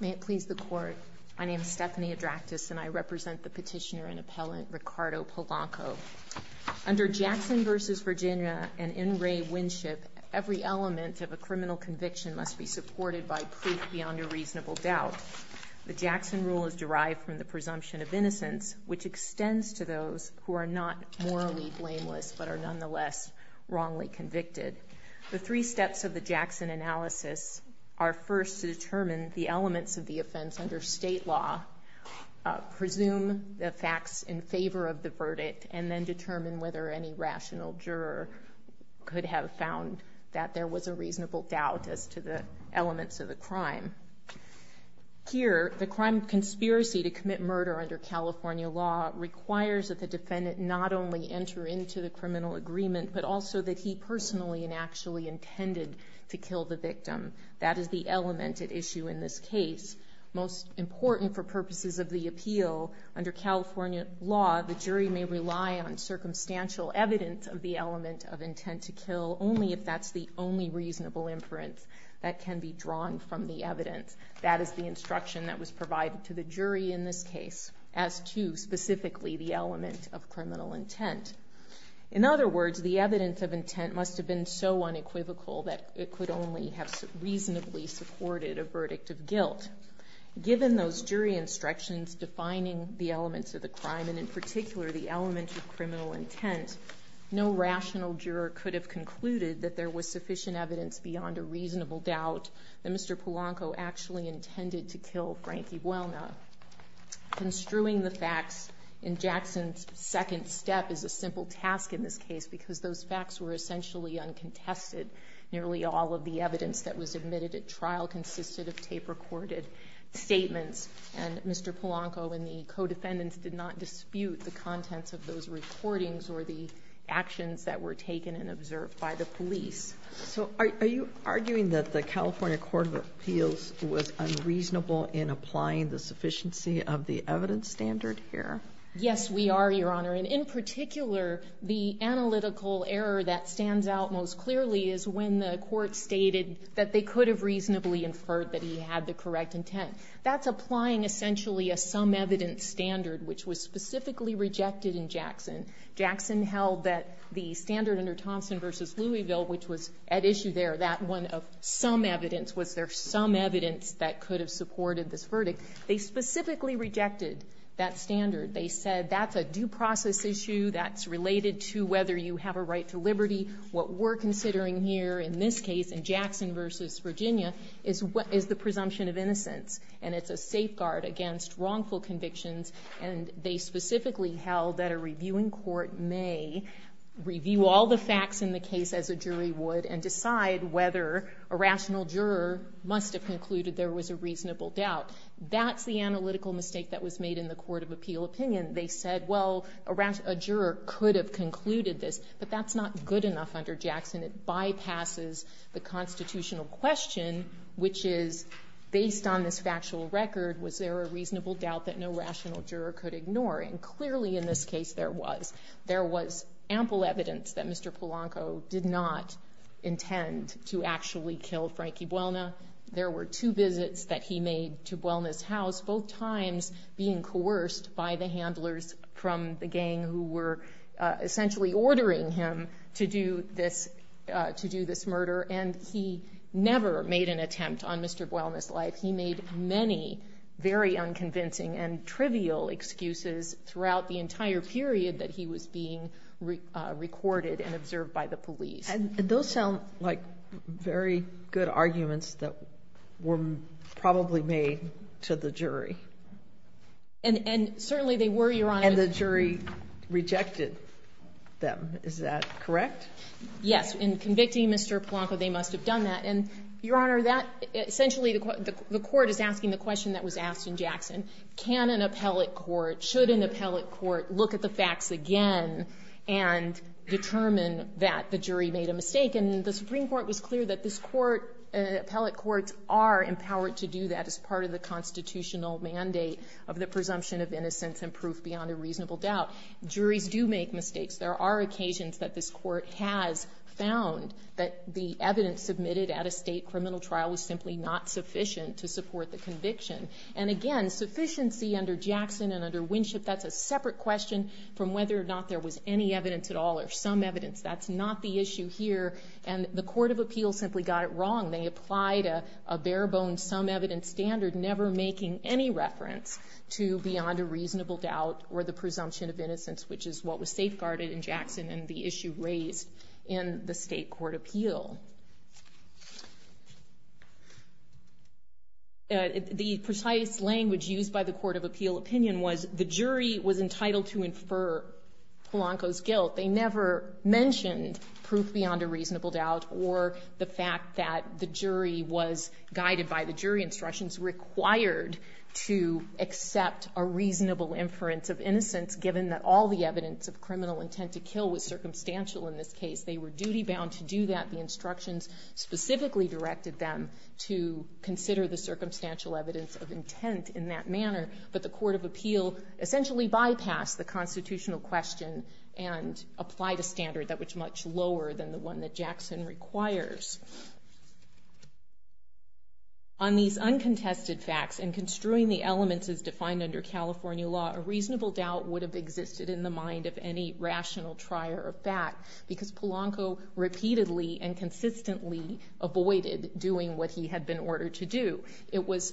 May it please the Court, my name is Stephanie Adraktis and I represent the petitioner and appellant Ricardo Polanco. Under Jackson v. Virginia and N. Ray Winship, every element of a criminal conviction must be supported by proof beyond a reasonable doubt. The Jackson rule is derived from the presumption of innocence, which extends to those who are not morally blameless but are nonetheless wrongly convicted. The three steps of the Jackson analysis are first to determine the elements of the offense under state law, presume the facts in favor of the verdict, and then determine whether any rational juror could have found that there was a reasonable doubt as to the elements of the crime. Here, the crime conspiracy to commit murder under California law requires that the defendant not only enter into the criminal agreement but also that he personally and actually intended to kill the victim. That is the element at issue in this case. Most important for purposes of the appeal, under California law, the jury may rely on circumstantial evidence of the element of intent to kill only if that's the only reasonable inference that can be drawn from the evidence. That is the instruction that was provided to the jury in this case as to specifically the element of criminal intent. In other words, the evidence of intent must have been so unequivocal that it could only have reasonably supported a verdict of guilt. Given those jury instructions defining the elements of the crime, and in particular the element of criminal intent, no rational juror could have concluded that there was sufficient evidence beyond a reasonable doubt that Mr. Polanco actually intended to kill Frankie Welner. Construing the facts in Jackson's second step is a simple task in this case because those nearly all of the evidence that was admitted at trial consisted of tape-recorded statements. And Mr. Polanco and the co-defendants did not dispute the contents of those recordings or the actions that were taken and observed by the police. So are you arguing that the California Court of Appeals was unreasonable in applying the sufficiency of the evidence standard here? Yes, we are, Your Honor. And in particular, the analytical error that stands out most clearly is when the Court stated that they could have reasonably inferred that he had the correct intent. That's applying essentially a some-evidence standard, which was specifically rejected in Jackson. Jackson held that the standard under Thompson v. Louisville, which was at issue there, that one of some evidence, was there some evidence that could have supported this verdict. They specifically rejected that standard. They said that's a due process issue, that's related to whether you have a right to liberty, what we're considering here in this case, in Jackson v. Virginia, is the presumption of innocence, and it's a safeguard against wrongful convictions. And they specifically held that a reviewing court may review all the facts in the case as a jury would and decide whether a rational juror must have concluded there was a reasonable doubt. That's the analytical mistake that was made in the court of appeal opinion. They said, well, a juror could have concluded this, but that's not good enough under Jackson. It bypasses the constitutional question, which is, based on this factual record, was there a reasonable doubt that no rational juror could ignore? And clearly, in this case, there was. There was ample evidence that Mr. Polanco did not intend to actually kill Frankie Buelna. There were two visits that he made to Buelna's house, both times being coerced by the handlers from the gang who were essentially ordering him to do this murder. And he never made an attempt on Mr. Buelna's life. He made many very unconvincing and trivial excuses throughout the entire period that he was being recorded and observed by the police. And those sound like very good arguments that were probably made to the jury. And certainly they were, Your Honor. And the jury rejected them. Is that correct? Yes. In convicting Mr. Polanco, they must have done that. And, Your Honor, that essentially the court is asking the question that was asked in Jackson. Can an appellate court, should an appellate court look at the facts again and determine that the jury made a mistake? And the Supreme Court was clear that this court, appellate courts are empowered to do that as part of the constitutional mandate of the presumption of innocence and proof beyond a reasonable doubt. Juries do make mistakes. There are occasions that this court has found that the evidence submitted at a state criminal trial was simply not sufficient to support the conviction. And again, sufficiency under Jackson and under Winship, that's a separate question from whether or not there was any evidence at all or some evidence. That's not the issue here. And the Court of Appeals simply got it wrong. They applied a bare-bones some-evidence standard, never making any reference to beyond a reasonable doubt or the presumption of innocence, which is what was safeguarded in Jackson in the issue raised in the State Court Appeal. The precise language used by the Court of Appeal opinion was the jury was entitled to infer Polanco's guilt. They never mentioned proof beyond a reasonable doubt or the fact that the jury was guided by the jury instructions required to accept a reasonable inference of innocence, given that all the evidence of criminal intent to kill was circumstantial in this case. They were duty-bound to do that. The instructions specifically directed them to consider the circumstantial evidence of intent in that manner. But the Court of Appeal essentially bypassed the constitutional question and applied a standard that was much lower than the one that Jackson requires. On these uncontested facts and construing the elements as defined under California law, a reasonable doubt would have existed in the mind of any rational trier of fact because Polanco repeatedly and consistently avoided doing what he had been ordered to do. It was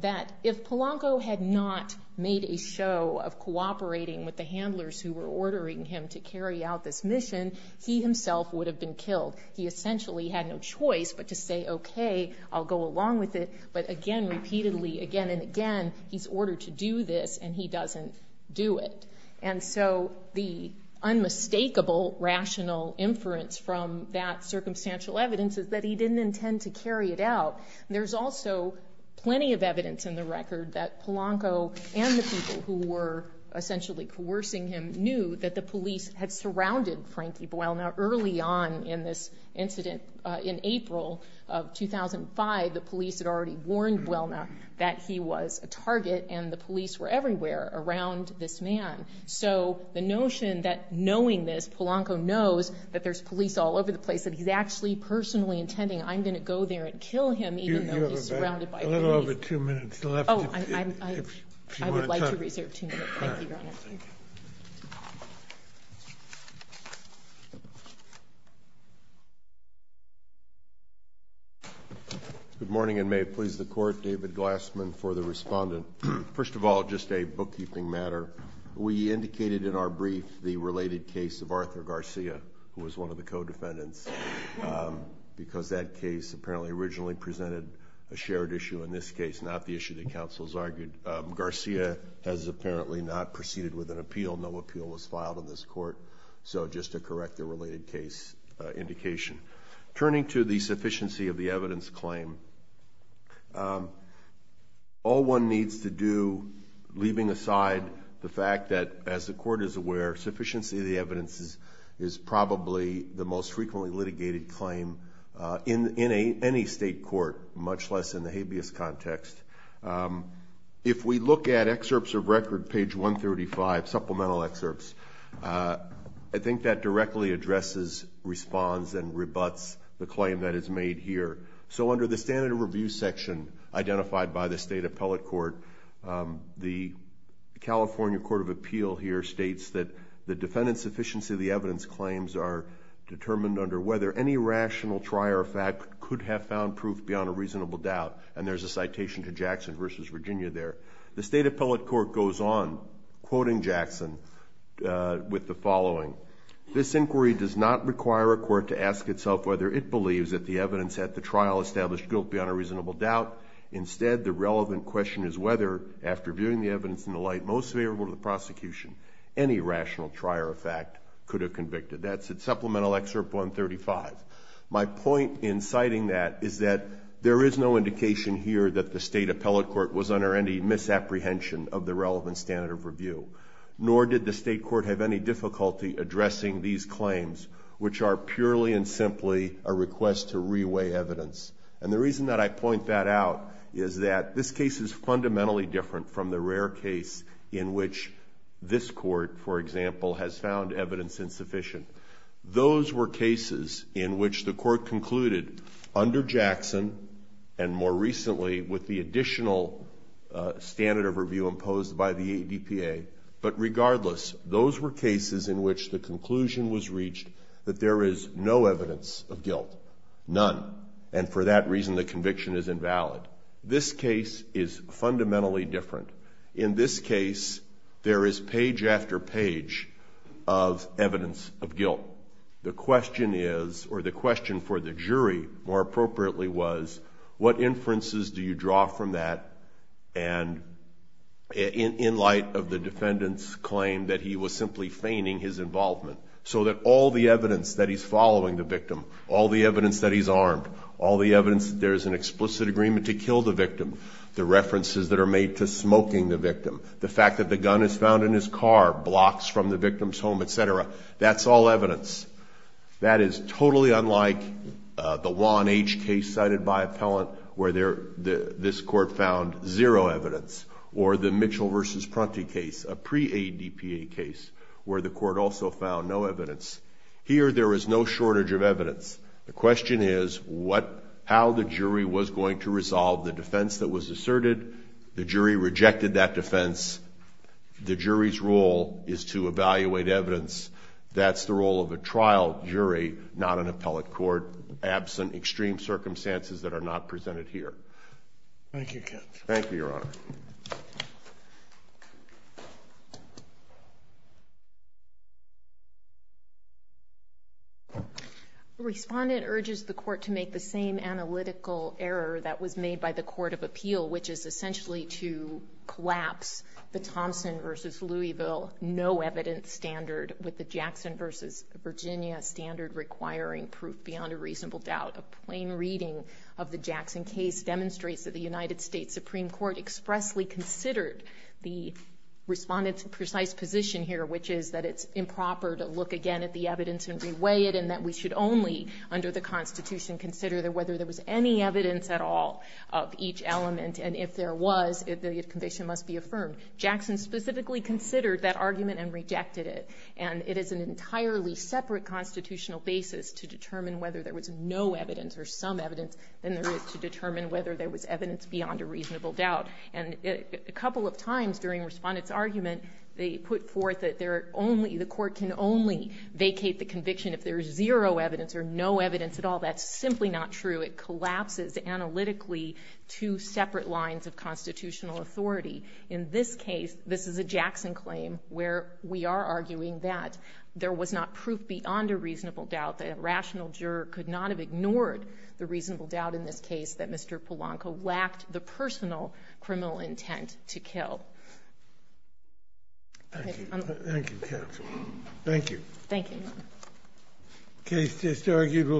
that if he had not made a show of cooperating with the handlers who were ordering him to carry out this mission, he himself would have been killed. He essentially had no choice but to say, okay, I'll go along with it, but again, repeatedly, again and again, he's ordered to do this and he doesn't do it. And so the unmistakable rational inference from that circumstantial evidence is that he didn't intend to carry it out. There's also plenty of evidence in the record that Polanco and the people who were essentially coercing him knew that the police had surrounded Frankie Buelna early on in this incident. In April of 2005, the police had already warned Buelna that he was a target and the police were everywhere around this man. So the notion that knowing this, Polanco knows that there's police all over the place, that he's actually personally intending, I'm going to go there and kill him even though he's surrounded by police. We have over two minutes left. Oh, I would like to reserve two minutes. Thank you, Your Honor. Good morning and may it please the Court. David Glassman for the Respondent. First of all, just a bookkeeping matter. We indicated in our brief the related case of Arthur Garcia, who was one of the co-defendants, because that case apparently originally presented a shared issue in this case, not the issue that counsel has argued. Garcia has apparently not proceeded with an appeal. No appeal was filed in this Court. So just to correct the related case indication. Turning to the sufficiency of the evidence claim, all one needs to do, leaving aside the fact that, as the Court is aware, sufficiency of the evidence is probably the most frequently litigated claim in any state court, much less in the habeas context. If we look at excerpts of record, page 135, supplemental excerpts, I think that directly addresses, responds, and rebuts the claim that is made here. So under the standard review section identified by the State Appellate Court, the California Court of Appeal here states that the defendant's sufficiency of the evidence claims are determined under whether any rational trial or fact could have found proof beyond a reasonable doubt. And there's a citation to Jackson v. Virginia there. The State Appellate Court goes on, quoting Jackson, with the following, this inquiry does not require a court to ask itself whether it believes that the evidence at the trial established guilt beyond a reasonable doubt. Instead, the relevant question is whether, after viewing the evidence in the light most favorable to the prosecution, any rational trial or fact could have convicted. That's in supplemental excerpt 135. My point in citing that is that there is no indication here that the State Appellate Court was under any misapprehension of the relevant standard of review, nor did the State Court have any difficulty addressing these claims, which are purely and simply a request to reweigh evidence. And the reason that I point that out is that this case is fundamentally different from the rare case in which this Court, for example, has found evidence insufficient. Those were cases in which the Court concluded under Jackson and more recently with the additional standard of review imposed by the ADPA, but regardless, those were cases in which the conclusion was reached that there is no evidence of guilt, none, and for that reason the conviction is invalid. This case is fundamentally different. In this case, there is page after page of evidence of guilt. The question is or the question for the jury, more appropriately, was what inferences do you draw from that and in light of the defendant's claim that he was simply feigning his involvement so that all the evidence that he's following the victim, all the evidence that he's armed, all the evidence that there's an explicit agreement to kill the victim, the references that are made to smoking the victim, the fact that the gun is found in his car, blocks from the victim's home, etc., that's all evidence. That is totally unlike the Juan H. case cited by appellant where this Court found zero evidence or the Mitchell v. Pronte case, a pre-ADPA case, where the Court also found no evidence. Here, there is no shortage of evidence. The question is what, how the jury was going to resolve the defense that was asserted. The jury rejected that defense. The jury's role is to evaluate evidence. That's the role of a trial jury, not an appellate court, absent extreme circumstances that are not presented here. Thank you, Your Honor. The respondent urges the Court to make the same analytical error that was made by the Court of Appeal, which is essentially to collapse the Thompson v. Louisville no evidence standard with the Jackson v. Virginia standard requiring proof beyond a reasonable doubt. A plain reading of the Jackson case demonstrates that the United States Supreme Court expressly considered the respondent's precise position here, which is that it's improper to look again at the evidence and reweigh it and that we should only, under the Constitution, consider whether there was any evidence at all of each element and if there was, the conviction must be affirmed. Jackson specifically considered that argument and rejected it. And it is an entirely separate constitutional basis to determine whether there was no evidence or some evidence than there is to determine whether there was evidence beyond a reasonable doubt. And a couple of times during Respondent's argument, they put forth that there are only, the Court can only vacate the conviction if there is zero evidence or no evidence at all. That's simply not true. It collapses analytically two separate lines of constitutional authority. In this case, this is a Jackson claim where we are arguing that there was not proof beyond a reasonable doubt, that a rational juror could not have ignored the reasonable doubt in this case that Mr. Polanco lacked the personal criminal intent to kill. Thank you. Thank you, Your Honor.